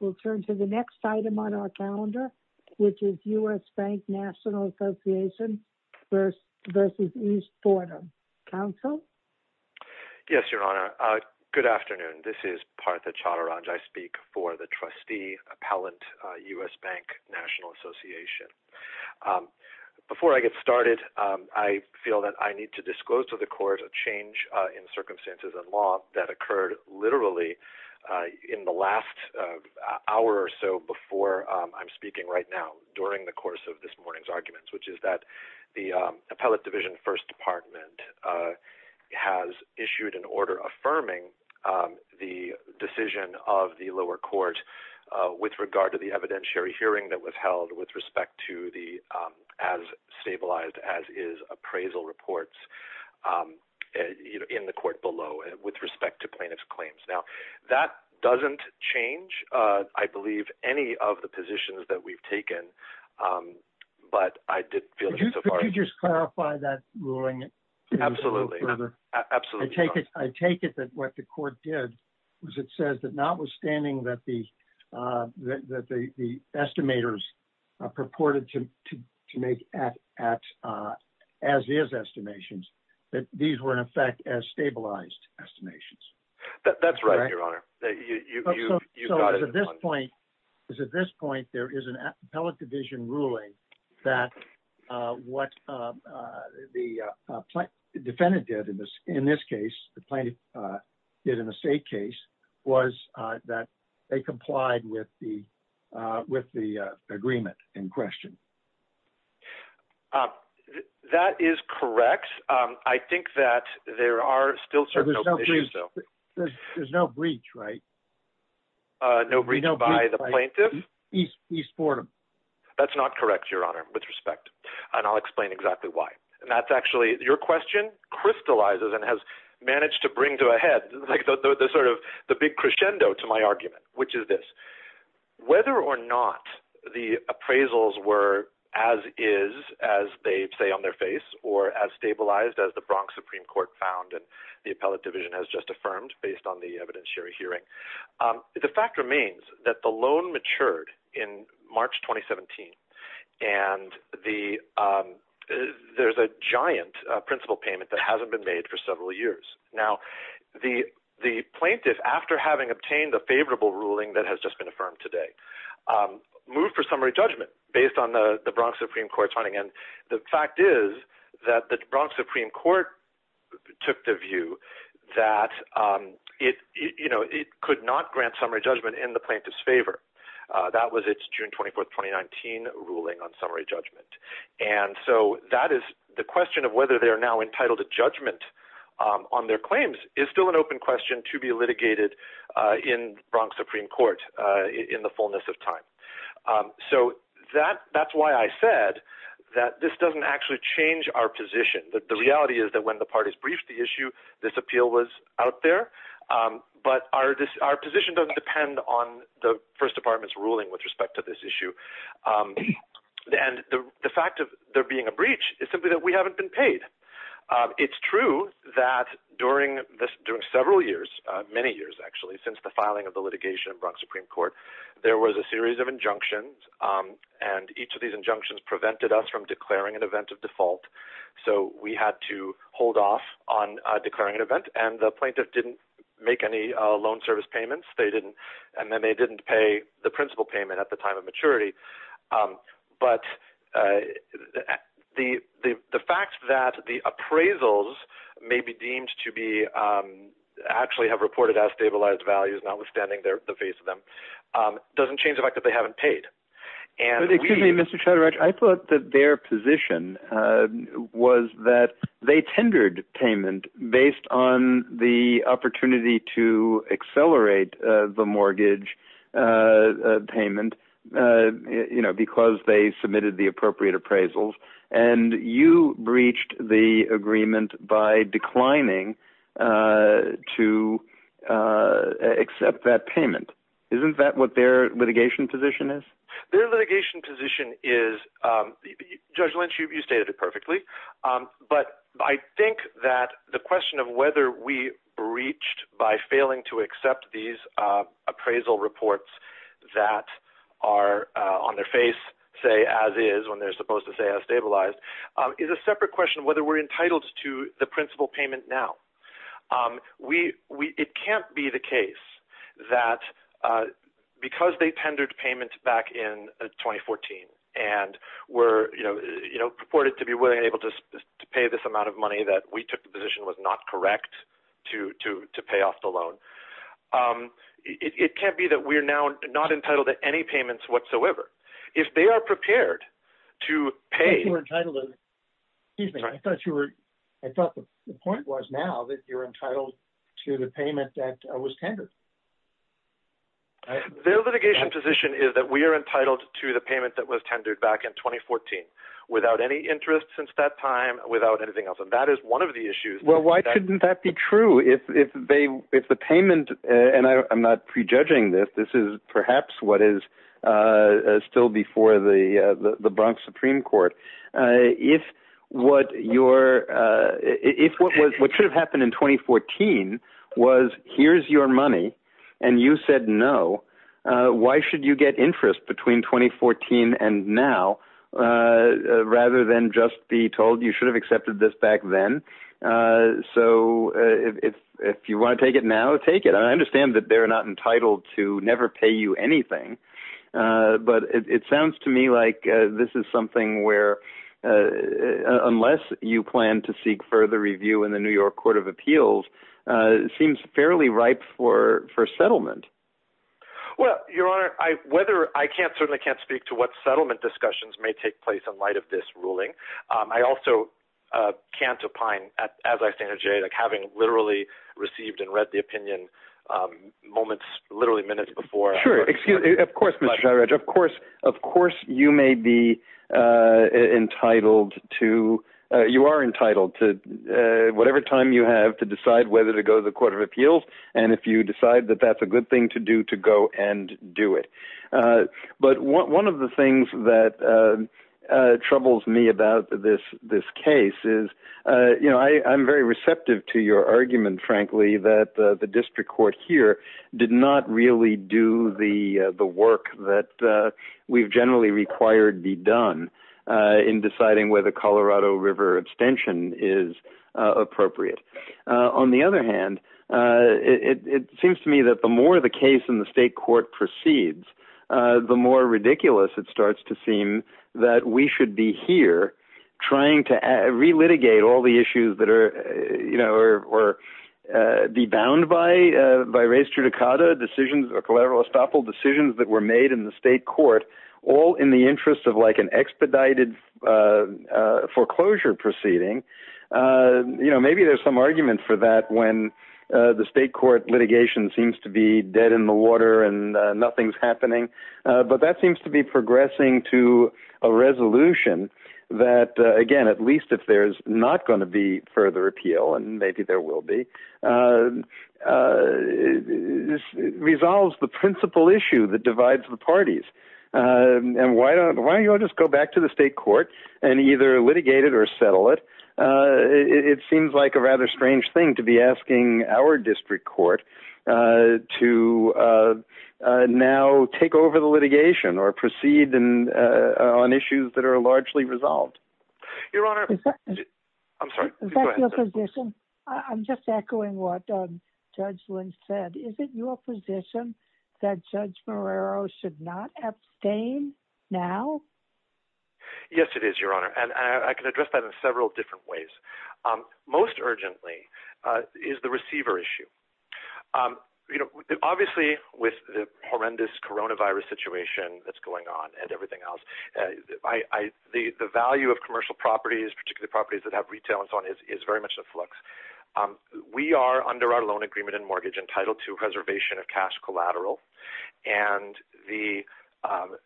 We'll turn to the next item on our calendar, which is U.S. Bank National Association v. East Fordham. Counsel? Yes, Your Honor. Good afternoon. This is Partha Chattarajah. I speak for the trustee appellant, U.S. Bank National Association. Before I get started, I feel that I need to disclose to the hour or so before I'm speaking right now during the course of this morning's arguments, which is that the Appellate Division First Department has issued an order affirming the decision of the lower court with regard to the evidentiary hearing that was held with respect to the as-stabilized-as-is appraisal reports in the court below with respect to plaintiff's claims. That doesn't change, I believe, any of the positions that we've taken, but I didn't feel it so far. Could you just clarify that ruling? Absolutely. I take it that what the court did was it says that notwithstanding that the estimators purported to make as-is estimations, that these were, in effect, as-stabilized estimations. That's right, Your Honor. At this point, there is an Appellate Division ruling that what the defendant did in this case, the plaintiff did in the state case, was that they complied with the agreement in question. That is correct. I think that there are still certain... There's no breach, right? No breach by the plaintiff? East Fordham. That's not correct, Your Honor, with respect, and I'll explain exactly why. Your question crystallizes and has managed to bring to a head the big crescendo to my argument, which is this. Whether or not the appraisals were as-is, as they say on their face, or as-stabilized as the Bronx Supreme Court found, and the Appellate Division has just affirmed based on the evidentiary hearing, the fact remains that the loan matured in March 2017, and there's a giant principal payment that hasn't been made for several years. Now, the plaintiff, after having obtained a favorable ruling that has just been affirmed today, moved for summary judgment based on the Bronx Supreme Court's finding, and the fact is that the Bronx Supreme Court took the view that it could not grant summary judgment in the plaintiff's favor. That was its June 24, 2019, ruling on summary judgment. And so that is... The question of whether they are now entitled to judgment on their claims is still an open question to be litigated in Bronx Supreme Court in the fullness of time. So that's why I said that this doesn't actually change our position. The reality is that when the parties briefed the issue, this appeal was out there, but our position doesn't depend on the First Department's ruling with respect to this issue. And the fact of there being a breach is simply that we haven't been paid. It's true that during several years, many years actually, since the filing of the litigation in Bronx Supreme Court, there was a series of injunctions, and each of these injunctions prevented us from declaring an event of default. So we had to hold off on declaring an event, and the plaintiff didn't make any loan service payments, and then they didn't pay the principal payment at the time of maturity. But the fact that the appraisals may be deemed to be... Notwithstanding the face of them, it doesn't change the fact that they haven't paid. And we... But excuse me, Mr. Chatterjee, I thought that their position was that they tendered payment based on the opportunity to accelerate the mortgage payment because they submitted the payment. Isn't that what their litigation position is? Their litigation position is... Judge Lynch, you stated it perfectly, but I think that the question of whether we breached by failing to accept these appraisal reports that are on their face, say as is, when they're supposed to say as stabilized, is a separate question of whether we're entitled to the principal payment now. It can't be the case that because they tendered payment back in 2014 and were purported to be willing and able to pay this amount of money that we took the position was not correct to pay off the loan. It can't be that we're now not entitled to any payments whatsoever. If they are prepared to pay... I thought you were entitled to... The point was now that you're entitled to the payment that was tendered. Their litigation position is that we are entitled to the payment that was tendered back in 2014 without any interest since that time, without anything else. And that is one of the issues. Well, why couldn't that be true? If the payment, and I'm not prejudging this, this is perhaps what is still before the Bronx Supreme Court. If what should have happened in 2014 was here's your money and you said no, why should you get interest between 2014 and now rather than just be told you should have accepted this back then? So if you want to take it now, take it. I understand that they're not entitled to never pay you anything, but it sounds to me like this is something where unless you plan to seek further review in the New York Court of Appeals, it seems fairly ripe for settlement. Well, Your Honor, I can't speak to what settlement discussions may take place in light of this ruling. I also can't opine, as I say to Jay, like having literally received and read the opinion moments, literally minutes before. Sure, excuse me. Of course, of course, of course, you may be entitled to, you are entitled to whatever time you have to decide whether to go to the Court of Appeals. And if you decide that that's a good thing to do, to go and do it. But one of the things that troubles me about this case is, you know, I'm very receptive to your argument, frankly, that the district court here did not really do the work that we've generally required be done in deciding whether Colorado River abstention is appropriate. On the other hand, it seems to me that the more the case in the state court proceeds, the more ridiculous it starts to seem that we should be here trying to re-litigate all the issues that are, you know, or be bound by race judicata decisions or collateral estoppel decisions that were made in the state court, all in the interest of like an expedited foreclosure proceeding. You know, maybe there's some argument for that when the state court litigation seems to be dead in the water and nothing's happening. But that seems to be progressing to a resolution that, again, at least if there's not going to be further appeal, and maybe there will be, resolves the principal issue that divides the parties. And why don't, why don't you all just go back to the state court and either litigate it or settle it? It seems like a rather strange thing to be asking our district court to now take over the litigation or proceed on issues that are largely resolved. Your Honor, I'm sorry. Is that your position? I'm just echoing what Judge Lynch said. Is it your position that Judge Marrero should not abstain now? Yes, it is, Your Honor. And I can address that in several different ways. Most urgently is the receiver issue. You know, obviously with the horrendous coronavirus situation that's going on and everything else, the value of commercial properties, particularly properties that have retail and so on, is very much in flux. We are, under our loan agreement and mortgage, entitled to a reservation of cash collateral. And we have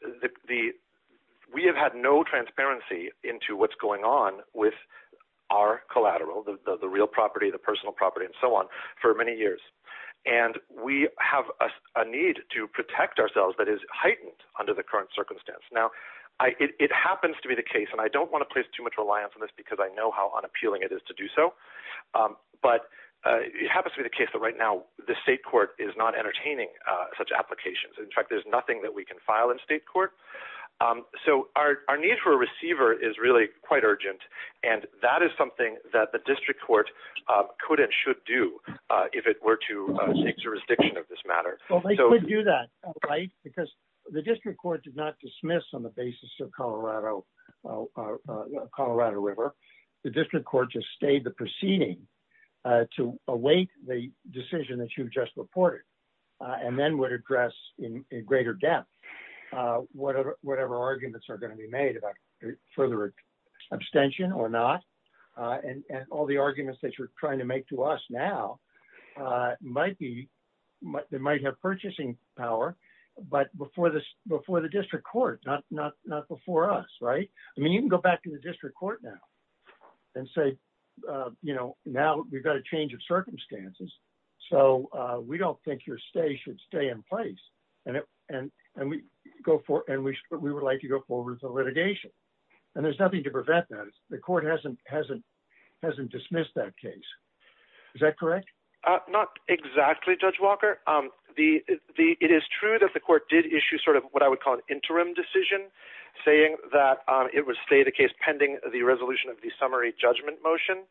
had no transparency into what's going on with our collateral, the real property, the personal property, and so on, for many years. And we have a need to protect ourselves that is heightened under the current circumstance. Now, it happens to be the case, and I don't want to place too much reliance on this because I know how unappealing it is to do so, but it happens to be the case that right now the state court is not entertaining such applications. In fact, there's nothing that we can file in state court. So our need for a receiver is really quite urgent, and that is something that the district court could and should do if it were to take jurisdiction of this matter. Well, they could do that, right? Because the district court did not dismiss on the basis of Colorado River. The district court just stayed the proceeding to await the decision that you just reported, and then would address in greater depth whatever arguments are going to be made about further abstention or not. And all the arguments that trying to make to us now might have purchasing power, but before the district court, not before us, right? I mean, you can go back to the district court now and say, you know, now we've got a change of circumstances, so we don't think your stay should stay in place, and we would like to go forward with a litigation. And there's nothing to prevent that. The court hasn't dismissed that case. Is that correct? Not exactly, Judge Walker. It is true that the court did issue sort of what I would call an interim decision, saying that it would stay the case pending the resolution of the summary judgment motion.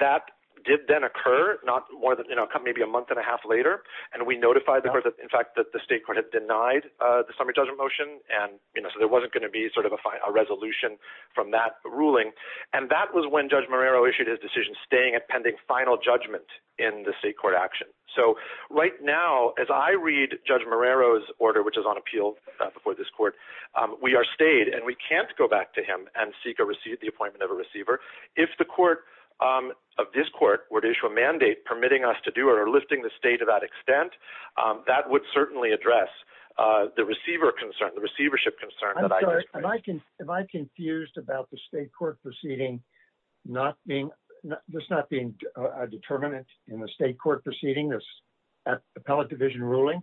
That did then occur, not more than, you know, maybe a month and a half later, and we notified the court, in fact, that the state court had denied the summary judgment motion, and, you know, so there wasn't going to be sort of a resolution from that ruling. And that was when Judge Marrero issued his decision staying at pending final judgment in the state court action. So right now, as I read Judge Marrero's order, which is on appeal before this court, we are stayed, and we can't go back to him and seek the appointment of a receiver. If the court, of this court, were to issue a mandate permitting us to do or lifting the state to that extent, that would certainly address the receiver concern, the receivership concern. I'm sorry, am I confused about the state court proceeding not being, just not being a determinant in the state court proceeding, this appellate division ruling?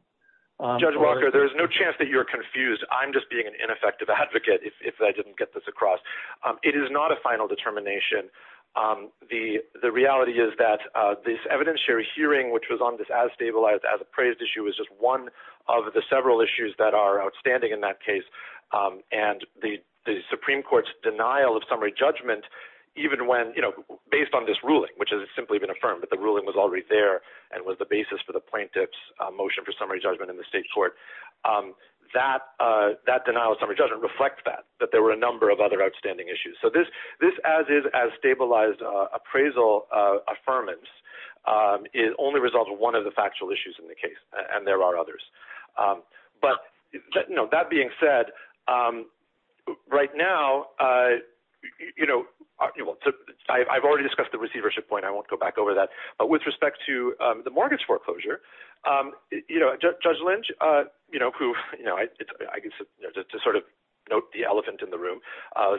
Judge Walker, there is no chance that you're confused. I'm just being an ineffective advocate if I didn't get this across. It is not a final determination. The reality is that this evidentiary hearing, which was on this as stabilized, as appraised issue, is just one of the several issues that are outstanding in that case. And the Supreme Court's denial of summary judgment, even when, you know, based on this ruling, which has simply been affirmed, but the ruling was already there and was the basis for the plaintiff's motion for summary judgment in the state court, that denial of summary judgment reflects that, that there were a number of other outstanding issues. So this as is, as stabilized appraisal affirmance is only resolved with one of the factual issues in the case, and there are others. But, you know, that being said, right now, you know, I've already discussed the receivership point. I won't go back over that. But with respect to the mortgage foreclosure, you know, Judge Lynch, you know, who, you know, I guess just to sort of note the elephant in the room,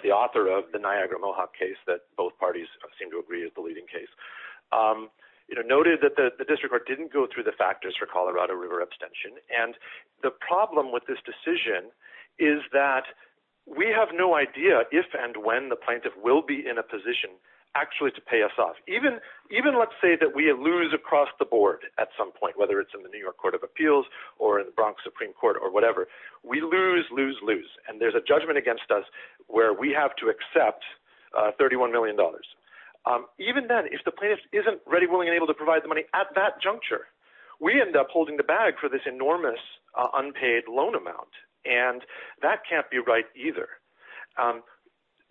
the author of the Niagara Mohawk case that both parties seem to agree is the leading case, noted that the district court didn't go through the factors for Colorado River abstention. And the problem with this decision is that we have no idea if and when the plaintiff will be in a position actually to pay us off. Even, even let's say that we lose across the board at some point, whether it's in the New York Court of Appeals or in the Bronx Supreme Court or whatever, we lose, lose, lose. And there's a judgment against us where we have to accept $31 million. Even then, if the plaintiff isn't ready, willing, and able to provide the money at that juncture, we end up holding the bag for this enormous unpaid loan amount. And that can't be right either.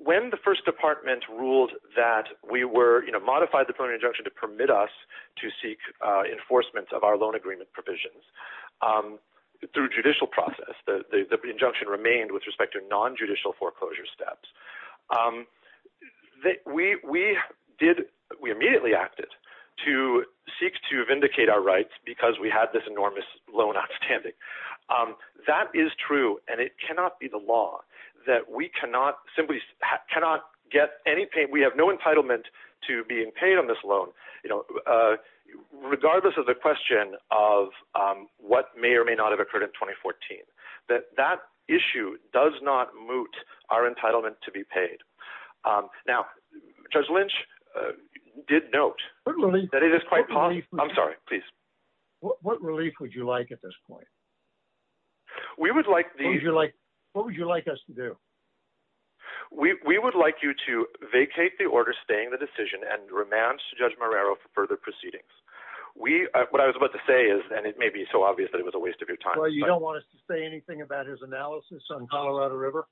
When the first department ruled that we were, you know, modified the preliminary injunction to permit us to seek enforcement of our loan agreement provisions through judicial process, the injunction remained with respect to non-judicial foreclosure steps. We did, we immediately acted to seek to vindicate our rights because we had this enormous loan outstanding. That is true. And it cannot be the law that we cannot simply, cannot get anything. We have no entitlement to being paid on this loan, you know, regardless of question of what may or may not have occurred in 2014, that that issue does not moot our entitlement to be paid. Now, Judge Lynch did note that it is quite, I'm sorry, please. What relief would you like at this point? We would like the, What would you like us to do? We would like you to vacate the order, staying the decision and remand to Judge Lynch. What I was about to say is, and it may be so obvious that it was a waste of your time. You don't want us to say anything about his analysis on Colorado River?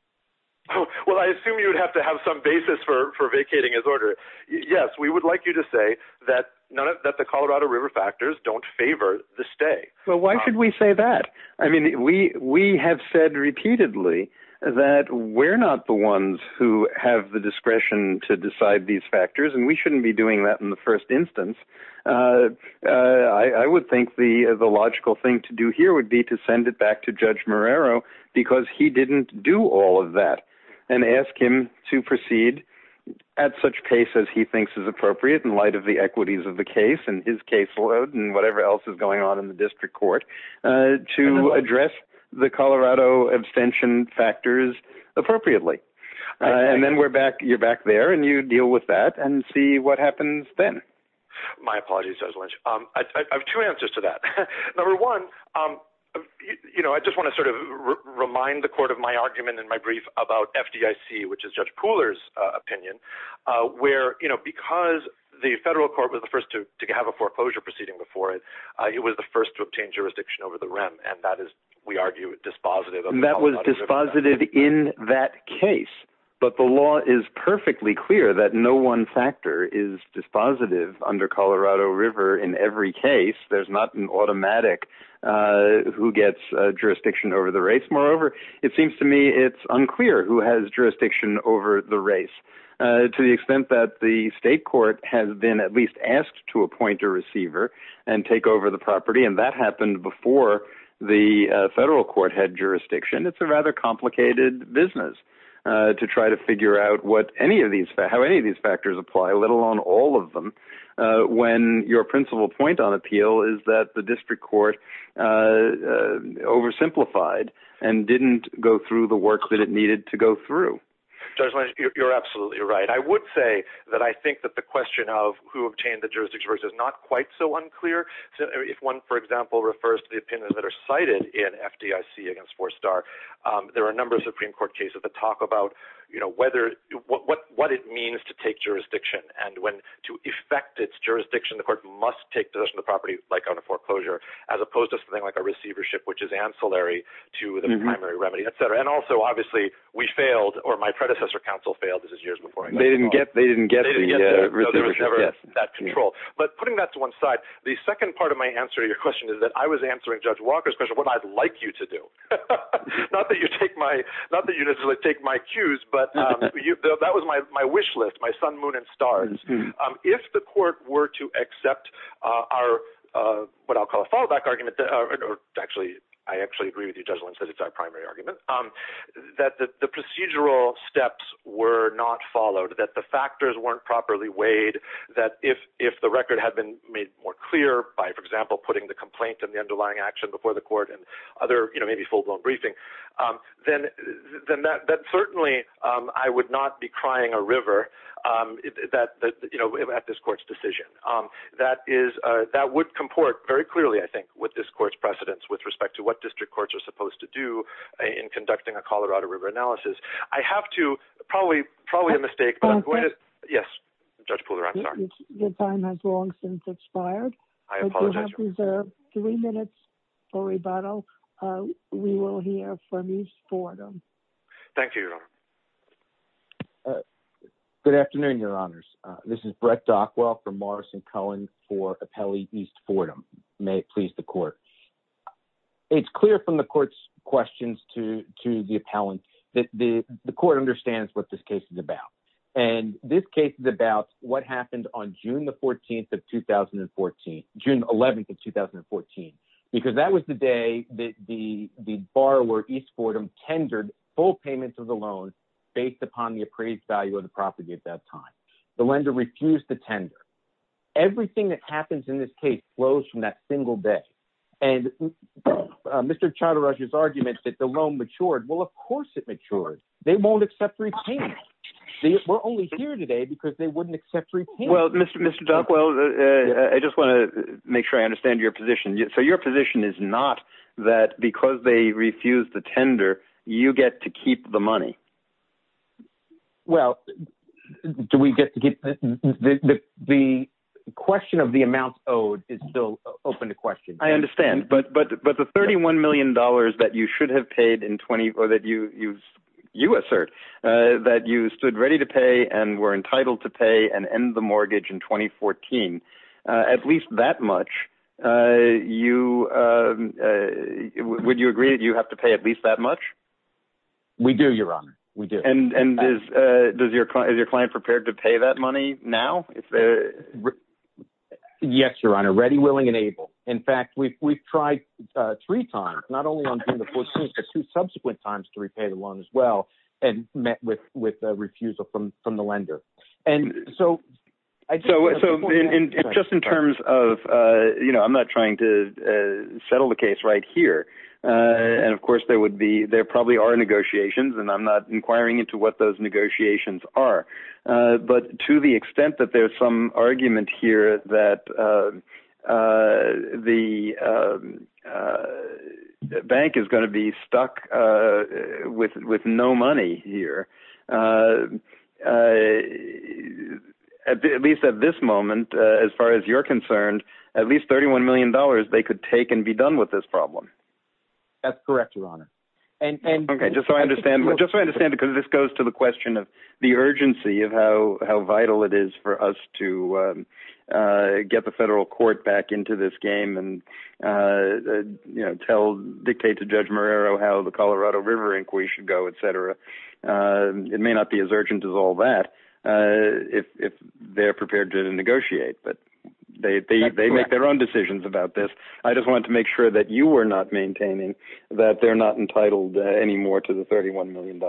Well, I assume you would have to have some basis for vacating his order. Yes, we would like you to say that the Colorado River factors don't favor the stay. Well, why should we say that? I mean, we have said repeatedly that we're not the ones who have the discretion to decide these factors, and we shouldn't be doing that in the first instance. I would think the logical thing to do here would be to send it back to Judge Morero, because he didn't do all of that, and ask him to proceed at such pace as he thinks is appropriate in light of the equities of the case and his caseload and whatever else is going on in the district court to address the Colorado abstention factors appropriately. And then you're back there and you deal with that and see what happens then. My apologies, Judge Lynch. I have two answers to that. Number one, I just want to sort of remind the court of my argument in my brief about FDIC, which is Judge Pooler's opinion, where because the federal court was the first to have a foreclosure proceeding before it, it was the first to obtain jurisdiction over the REM, and that is, we argue, dispositive. That was dispositive in that case, but the law is perfectly clear that no one factor is dispositive under Colorado River in every case. There's not an automatic who gets jurisdiction over the race. Moreover, it seems to me it's unclear who has jurisdiction over the race, to the extent that the state court has been at least asked to appoint a receiver and take over the property, and that happened before the federal court had jurisdiction. It's a rather complicated business to try to figure out how any of these factors apply, let alone all of them, when your principal point on appeal is that the district court oversimplified and didn't go through the work that it needed to go through. Judge Lynch, you're absolutely right. I would say that I think that the question of who obtained the jurisdiction is not quite so unclear. If one, for example, refers to the opinions that are cited in FDIC against Four Star, there are a number of Supreme Court cases that talk about what it means to take jurisdiction, and when to effect its jurisdiction, the court must take possession of the property, like on a foreclosure, as opposed to something like a receivership, which is ancillary to the primary remedy, etc. Also, we failed, or my predecessor counsel failed. This was years before I got involved. They didn't get the receivership, yes. There was never that control. Putting that to one side, the second part of my answer to your question is that I was answering Judge Walker's question, what I'd like you to do. Not that you necessarily take my cues, but that was my wish list, my sun, moon, and stars. If the court were to accept our, what I'll call a follow-back argument, or actually, I actually agree with Judge Lund says it's our primary argument, that the procedural steps were not followed, that the factors weren't properly weighed, that if the record had been made more clear by, for example, putting the complaint and the underlying action before the court and other, maybe full-blown briefing, then that certainly, I would not be crying a river at this court's decision. That would comport very clearly, I think, with this court's precedence with respect to what district courts are supposed to do in conducting a Colorado River analysis. I have to, probably a mistake. Yes, Judge Pooler, I'm sorry. Your time has long since expired. I apologize. You have reserved three minutes for rebuttal. We will hear from East Fordham. Thank you, Your Honor. Good afternoon, Your Honors. This is Brett Dockwell from Morrison-Cohen for It's clear from the court's questions to the appellant that the court understands what this case is about, and this case is about what happened on June the 14th of 2014, June 11th of 2014, because that was the day that the borrower, East Fordham, tendered full payments of the loan based upon the appraised value of the property at that time. The lender refused to tender. Everything that happens in this case flows from that single day. And Mr. Chatterjee's argument that the loan matured, well, of course it matured. They won't accept repayment. We're only here today because they wouldn't accept repayment. Well, Mr. Dockwell, I just want to make sure I understand your position. So your position is not that because they refused to tender, you get to keep the money? Well, do we get to keep the money? The question of the amount owed is still open to question. I understand. But the $31 million that you should have paid in 20, or that you assert, that you stood ready to pay and were entitled to pay and end the mortgage in 2014, at least that much, would you agree that you have to pay at least that much? We do, Your Honor. We do. And is your client prepared to pay that money now? Yes, Your Honor. Ready, willing, and able. In fact, we've tried three times, not only on June the 14th, but two subsequent times to repay the loan as well, and met with refusal from the lender. And so... So just in terms of, you know, I'm not trying to settle the case right here. And of course, there would be, there probably are negotiations, and I'm not inquiring into what those negotiations are. But to the extent that there's some argument here that the bank is going to be stuck with no money here, at least at this moment, as far as you're concerned, at least $31 million, they could take and be done with this problem. That's correct, Your Honor. Okay, just so I understand, because this goes to the question of the urgency of how vital it is for us to get the federal court back into this game and, you know, tell, dictate to Judge Marrero how the Colorado River inquiry should go, et cetera. It may not be as urgent as all that if they're prepared to negotiate, but they make their own decisions about this. I just wanted to make sure that you were not maintaining that they're not entitled anymore to the $31 million.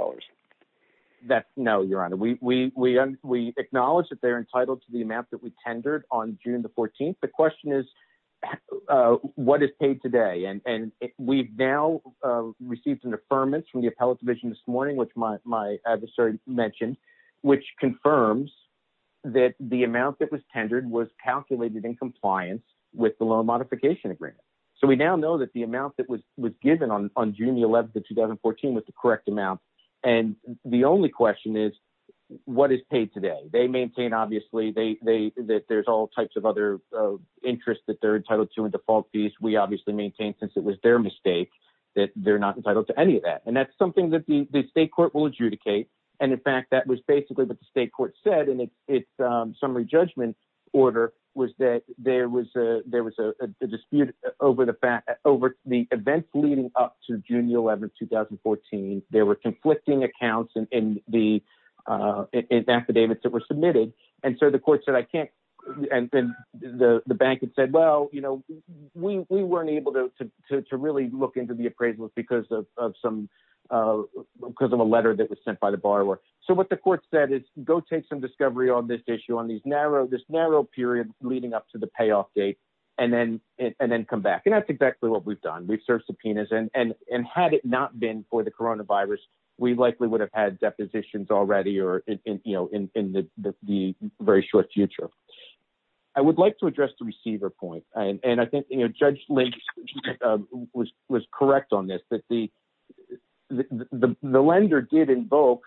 No, Your Honor. We acknowledge that they're entitled to the amount that we tendered on June the 14th. The question is, what is paid today? And we've now received an affirmance from the Appellate Division this morning, which my adversary mentioned, which confirms that the amount that was tendered was calculated in compliance with the loan modification agreement. So we now know that the amount that was given on June the 11th of 2014 was the correct amount. And the only question is, what is paid today? They maintain, obviously, that there's all types of other interests that they're entitled to in default fees. We obviously maintain, since it was their mistake, that they're not entitled to any of that. And that's something that the state court will adjudicate. And in fact, that was basically what the state court said. And its summary judgment order was that there was a dispute over the events leading up to June the 11th, 2014. There were conflicting accounts in the affidavits that were submitted. And so the court said, I can't. And then the bank had said, well, we weren't able to really look into the appraisal because of a letter that was sent by the borrower. So what the court said is, go take some discovery on this narrow period leading up to the payoff date and then come back. And that's exactly what we've done. We've served subpoenas. And had it not been for the coronavirus, we likely would have had depositions already or in the very short future. I would like to address the receiver point. And I think Judge Lynch was correct on this, that the lender did invoke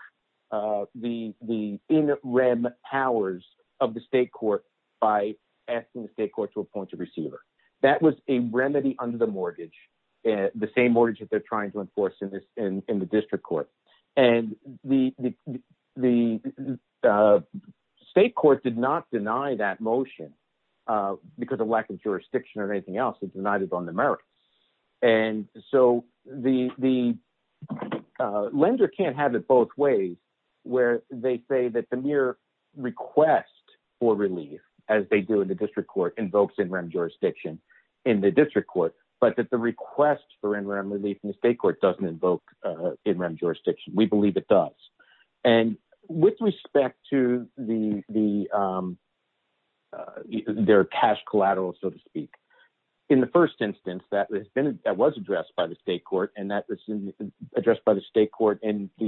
the in rem powers of the state court by asking the state court to appoint a receiver. That was a remedy under the mortgage, the same mortgage that they're trying to enforce in the district court. And the state court did not deny that motion because of lack of jurisdiction or anything else. It's not on the merits. And so the lender can't have it both ways where they say that the mere request for relief, as they do in the district court, invokes in rem jurisdiction in the district court, but that the request for in rem relief in the state court doesn't invoke in rem jurisdiction. We believe it does. And with In the first instance that was addressed by the state court and the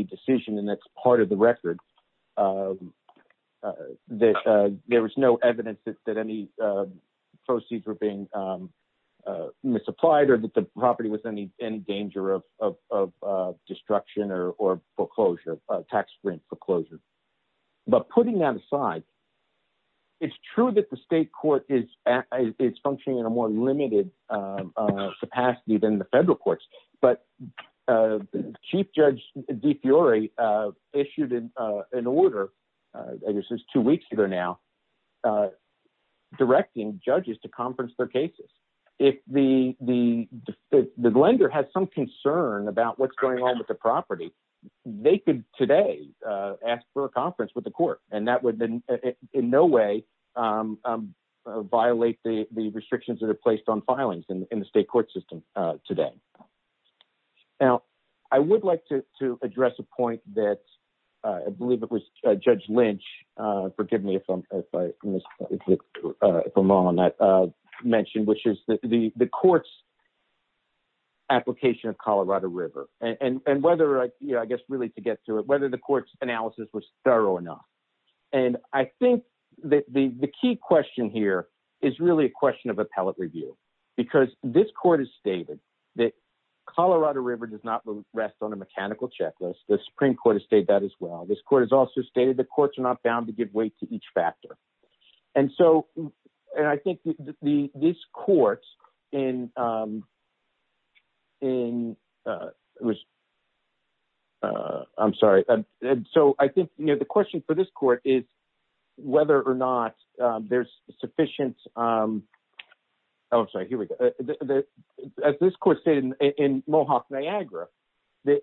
decision and that's part of the record, there was no evidence that any proceeds were being misapplied or that the property was in any danger of destruction or foreclosure, tax sprint foreclosure. But putting that aside, it's true that the state court is functioning in a more limited capacity than the federal courts. But Chief Judge DeFiore issued an order, I guess it's two weeks later now, directing judges to conference their cases. If the lender has some concern about what's going on with the property, they could today ask for a conference with the court. And that would in no way violate the restrictions that are placed on filings in the state court system today. Now, I would like to address a point that I believe it was Judge Lynch, forgive me if I'm wrong on that, mentioned, which is the court's application of Colorado River and whether I guess really to get to it, whether the court's analysis was thorough or not. And I think that the key question here is really a question of appellate review, because this court has stated that Colorado River does not rest on a mechanical checklist. The Supreme Court has that as well. This court has also stated the courts are not bound to give weight to each factor. And so I think this court in, I'm sorry. So I think the question for this court is whether or not there's sufficient, I'm sorry, here we go. As this court stated in Mohawk, Niagara, that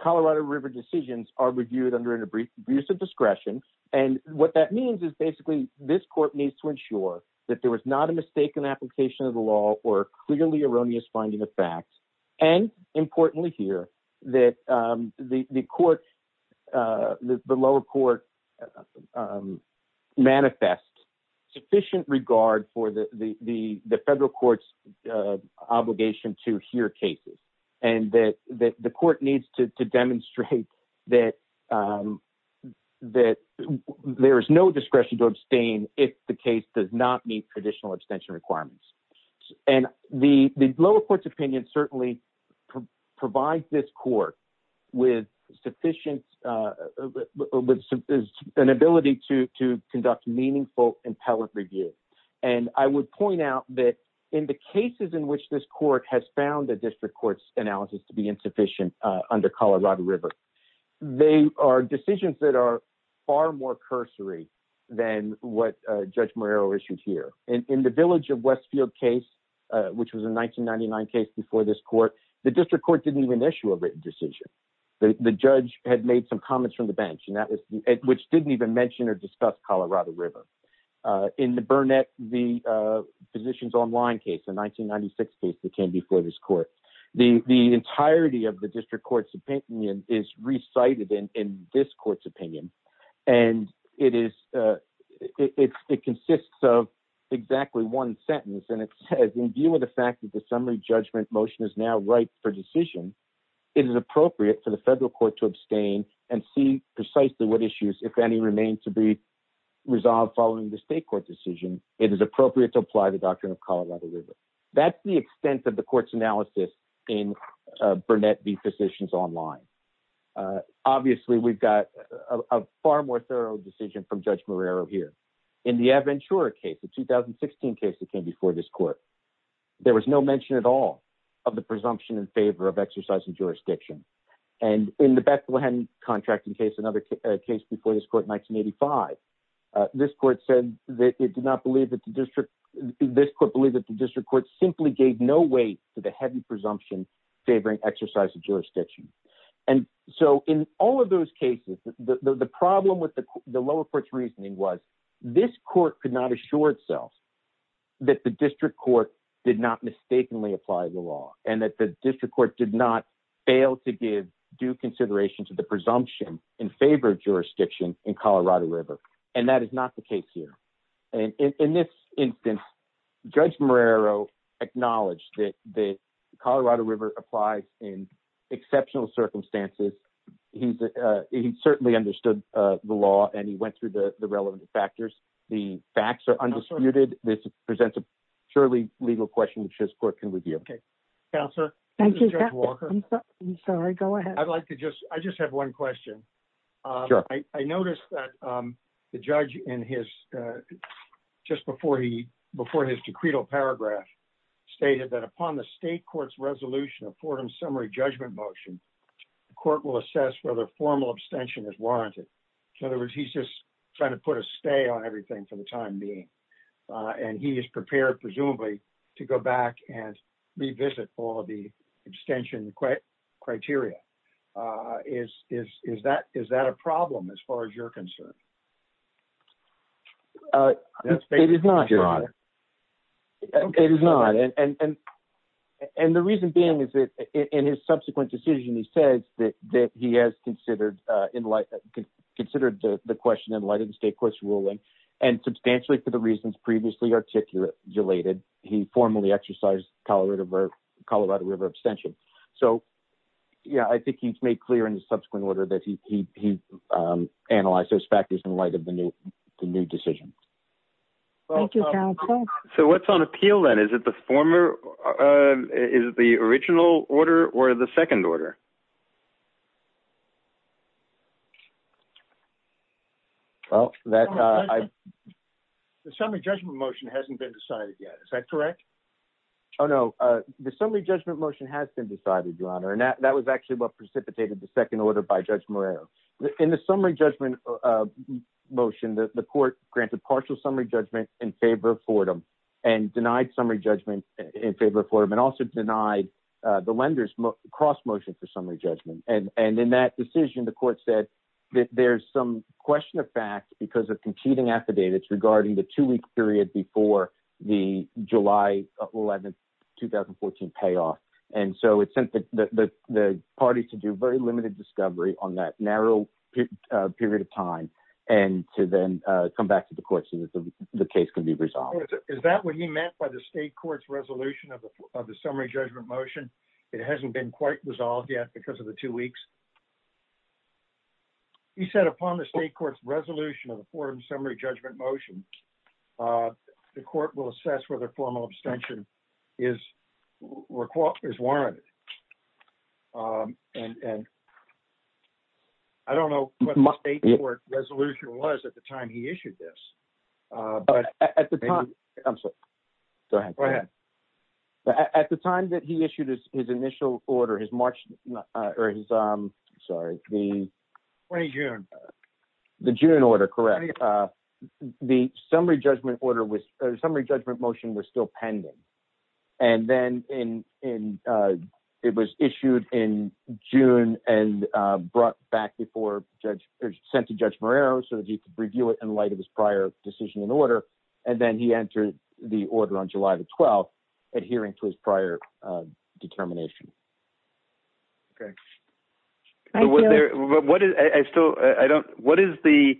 Colorado River decisions are reviewed under an abusive discretion. And what that means is basically this court needs to ensure that there was not a mistaken application of the law or clearly erroneous finding of facts. And importantly here, that the court, the lower court manifests sufficient regard for the federal court's obligation to hear cases. And that the court needs to demonstrate that there is no discretion to abstain if the case does not meet traditional abstention requirements. And the lower court's opinion certainly provides this court with sufficient, with an ability to conduct meaningful appellate review. And I would point out that in the cases in which this court has found the district court's analysis to be insufficient under Colorado River, they are decisions that are far more cursory than what Judge Morrero issued here. In the Village of Westfield case, which was a 1999 case before this court, the district court didn't even issue a written decision. The judge had made some comments from the bench and that was, which didn't even mention or discuss Colorado River. In the Burnett v. Physicians Online case, a 1996 case that came before this court, the entirety of the district court's opinion is recited in this court's opinion. And it is, it consists of exactly one sentence. And it says, in view of the fact that the summary judgment motion is now ripe for decision, it is appropriate for the federal court to abstain and see precisely what issues, if any, remain to be resolved following the state court decision. It is appropriate to apply the doctrine of Colorado River. That's the extent of the court's analysis in Burnett v. Physicians Online. Obviously, we've got a far more thorough decision from Judge Morrero here. In the Aventura case, a 2016 case that came before this court, there was no mention at all of the presumption in favor of exercising jurisdiction. And in the Bethlehem contracting case, another case before this court, 1985, this court said that it did not believe that the district, this court believed that the district court simply gave no weight to the heavy presumption favoring exercise of jurisdiction. And so in all of those cases, the problem with the lower court's reasoning was this court could not assure itself that the district court did not mistakenly apply the law and that the district court did not fail to give due consideration to the presumption in favor of jurisdiction in Colorado River. And that is not the case here. And in this instance, Judge Morrero acknowledged that the Colorado River applies in exceptional circumstances. He certainly understood the law and he went through the relevant factors. The facts are there. I'd like to just, I just have one question. I noticed that the judge in his, just before he, before his decreed a paragraph stated that upon the state court's resolution of Fordham summary judgment motion, the court will assess whether formal abstention is warranted. In other words, he's just trying to put a stay on everything for the time being. And he is prepared presumably to go back and revisit all of the extension criteria. Is, is, is that, is that a problem as far as you're concerned? It is not. It is not. And, and, and the reason being is that in his subsequent decision, he says that, that he has considered, considered the question in light of the state court's ruling and substantially for the reasons previously articulated, he formally exercised Colorado River, Colorado River abstention. So yeah, I think he's made clear in the subsequent order that he, he, he analyzed those factors in light of the new decision. So what's on appeal then? Is it the former, is the original order or the second order? Well, that, uh, the summary judgment motion hasn't been decided yet. Is that correct? Oh, no. Uh, the summary judgment motion has been decided your honor. And that, that was actually what precipitated the second order by judge Moreno in the summary judgment motion that the court granted partial summary judgment in favor of Fordham and denied summary judgment in favor of Fordham and also denied the lenders cross motion for summary judgment. And, and in that decision, the court said that there's some question of fact because of competing affidavits regarding the two week period before the July 11th, 2014 payoff. And so it sent the, the, the party to do very limited discovery on that narrow period of time and to then come back to the court so that the case can be resolved. Is that what he meant by the state court's resolution of the summary judgment motion? It hasn't been quite resolved yet because of the two weeks. He said upon the state court's resolution of the Fordham summary judgment motion, the court will assess whether formal abstention is required is warranted. Um, and, and I don't know what the state court resolution was at the time he issued this. But at the time, I'm sorry, go ahead, go ahead. At the time that he issued his initial order, his March or his, um, sorry, the June, the June order, correct. Uh, the summary judgment order was a summary judgment motion was still pending. And then in, in, uh, it was issued in June and, uh, brought back before judge or sent to judge Moreno so that he could review it in light of prior decision in order. And then he entered the order on July the 12th, adhering to his prior, uh, determination. Okay. What is I still, I don't, what is the,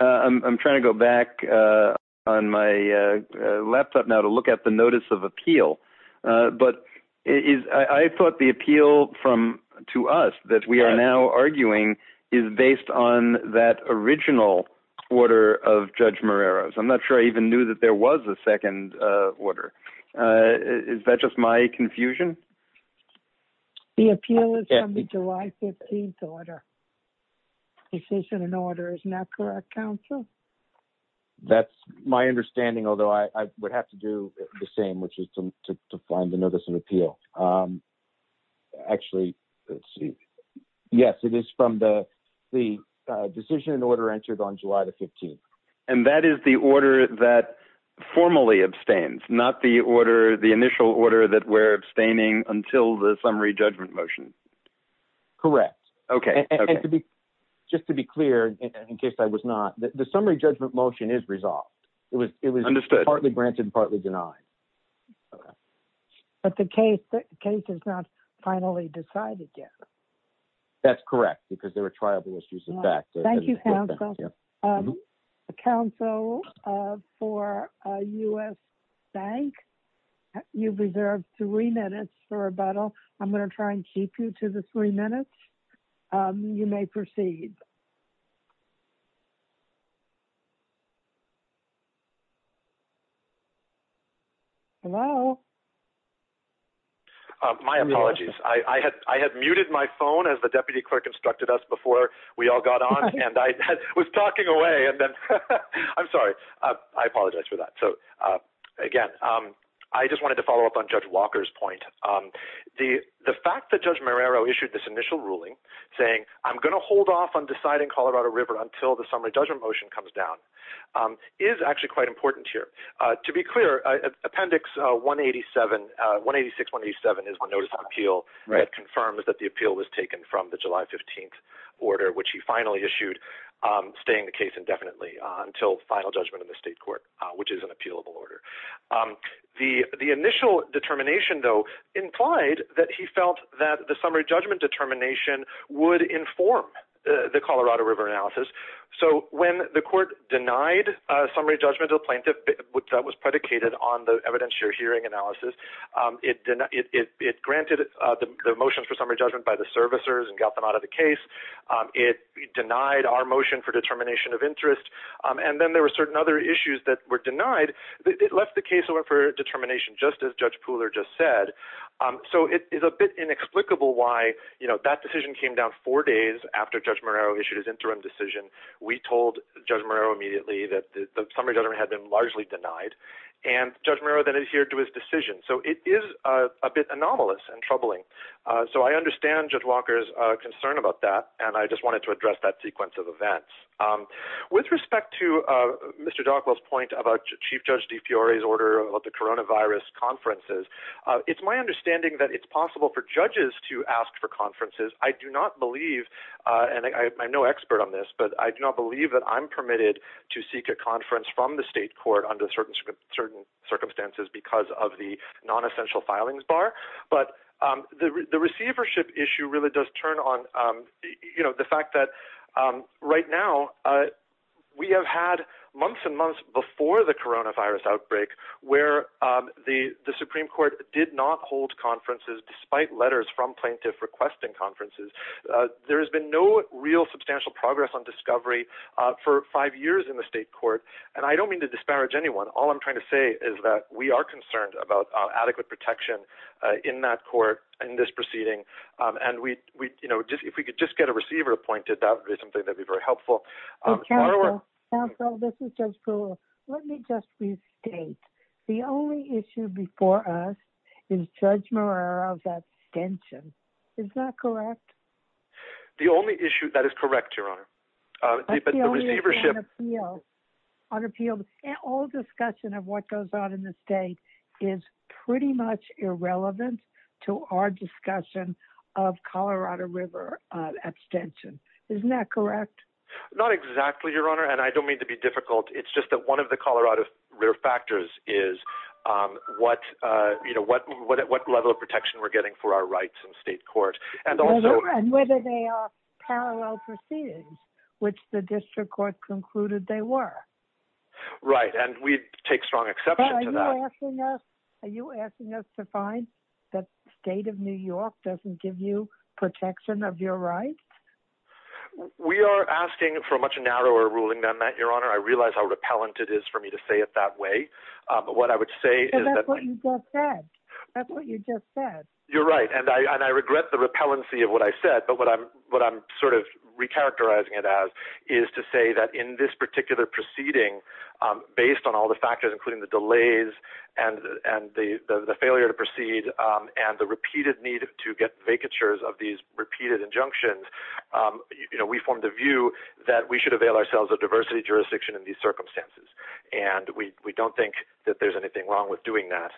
uh, I'm, I'm trying to go back, uh, on my, uh, uh, laptop now to look at the notice of appeal. Uh, but it is, I thought the appeal from, to us that we are now arguing is based on that original order of judge Moreno. So I'm not sure I even knew that there was a second, uh, order. Uh, is that just my confusion? The appeal is on the July 15th order decision and order is not correct counsel. That's my understanding. Although I would have to do the same, which is to, to, to find the notice of appeal. Um, actually let's see. Yes, it is from the, the, uh, decision and order entered on July the 15th. And that is the order that formally abstains, not the order, the initial order that we're abstaining until the summary judgment motion. Correct. Okay. And to be, just to be clear, in case I was not the summary judgment motion is was, it was partly granted and partly denied. Okay. But the case, the case is not finally decided yet. That's correct. Because there were tribal issues. In fact, thank you. Counsel for a us bank, you've reserved three minutes for a bottle. I'm going to try and keep you to the three minutes. Um, you may proceed. Hello. My apologies. I, I had, I had muted my phone as the deputy clerk instructed us before we all got on and I was talking away and then I'm sorry, I apologize for that. So, again, um, I just wanted to follow up on judge Walker's point. Um, the, the fact that judge Marrero issued this initial ruling saying, I'm going to hold off on deciding Colorado river until the summary judgment motion comes down, um, is actually quite important here. Uh, to be clear, uh, appendix, uh, one 87, uh, one 86, one 87 is one notice on appeal. Right. Confirms that the appeal was taken from the July 15th order, which he finally issued, um, staying the case indefinitely until final judgment in the state court, which is an appealable order. Um, the, the initial determination though, implied that he felt that the summary judgment determination would inform the Colorado river analysis. So when the court denied a summary judgment, a plaintiff that was predicated on the evidence, your hearing analysis, um, it, it, it, it granted, uh, the motions for summary judgment by the servicers and got them out of the case. Um, it denied our motion for determination of interest. Um, and then there were certain other issues that were denied that left the case over for determination, just as judge Pooler just said. Um, so it is a bit inexplicable why, you know, that decision came down four days after judge Marrero issued his interim decision. We told judge Marrero immediately that the summary judgment had been largely denied and judge Marrero then adhered to his decision. So it is a bit anomalous and troubling. Uh, so I understand judge Walker's, uh, concern about that. And I just wanted to address that sequence of events, um, with respect to, uh, Mr. Darkwell's point about chief judge D Fiore's order about the Corona virus conferences. Uh, it's my understanding that it's possible for judges to ask for conferences. I do not believe, uh, and I, I'm no expert on this, but I do not believe that I'm permitted to seek a conference from the state court under certain, certain circumstances because of the non-essential filings bar. But, um, the, the receivership issue really does turn on, um, you know, the fact that, um, right now, uh, we have had months and months before the Corona virus outbreak where, um, the, the Supreme court did not hold conferences despite letters from plaintiff requesting conferences. Uh, there has been no real substantial progress on discovery, uh, for five years in the state court. And I don't mean to disparage anyone. All I'm trying to say is that we are concerned about adequate protection, uh, in that court and this proceeding. Um, and we, we, you know, just, if we could just get a receiver appointed, that would be something that'd be very helpful. Um, counsel, this is just cool. Let me just restate the only issue before us is judge of that extension. Is that correct? The only issue that is correct, your honor, but the receivership on appeal and all discussion of what goes on in the state is pretty much irrelevant to our discussion of Colorado river abstention. Isn't that correct? Not exactly your honor. And I don't mean to be difficult. It's just that one of the Colorado rear factors is, um, what, uh, you know, what, what, what level of protection we're getting for our rights in state court and also parallel proceedings, which the district court concluded, they were right. And we take strong exception to that. Are you asking us to find that state of New York doesn't give you protection of your rights? We are asking for a much narrower ruling that your honor, I realized how repellent it is for me to say it that way. Um, but what I would say is that you're right. And I, and I regret the repellency of what I said, but what I'm, what I'm sort of recharacterizing it as is to say that in this particular proceeding, um, based on all the factors, including the delays and, and the, the, the failure to proceed, um, and the repeated need to get vacatures of these repeated injunctions, um, you know, we formed a view that we should avail ourselves of diversity jurisdiction in these circumstances. And we, we don't think that there's anything wrong with doing that.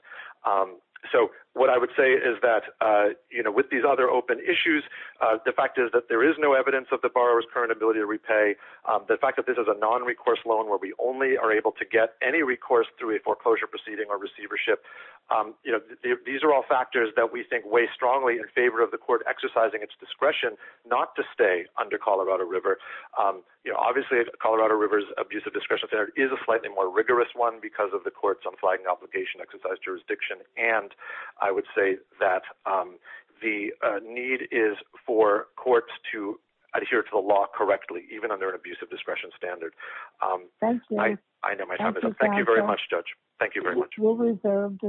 Um, so what I would say is that, uh, you know, with these other open issues, uh, the fact is that there is no evidence of the borrower's current ability to repay, um, the fact that this is a non-recourse loan, where we only are able to get any recourse through a foreclosure proceeding or receivership. Um, you know, these are all factors that we think weigh strongly in favor of the court exercising its discretion, not to stay under Colorado River. Um, you know, obviously Colorado River's abusive discretion standard is a slightly more rigorous one because of the courts on flagging obligation exercise jurisdiction. And I would say that, um, the, uh, need is for courts to adhere to the law correctly, even under an abusive discretion standard. Um, I know my time is up. Thank you very much, judge. Thank you very much.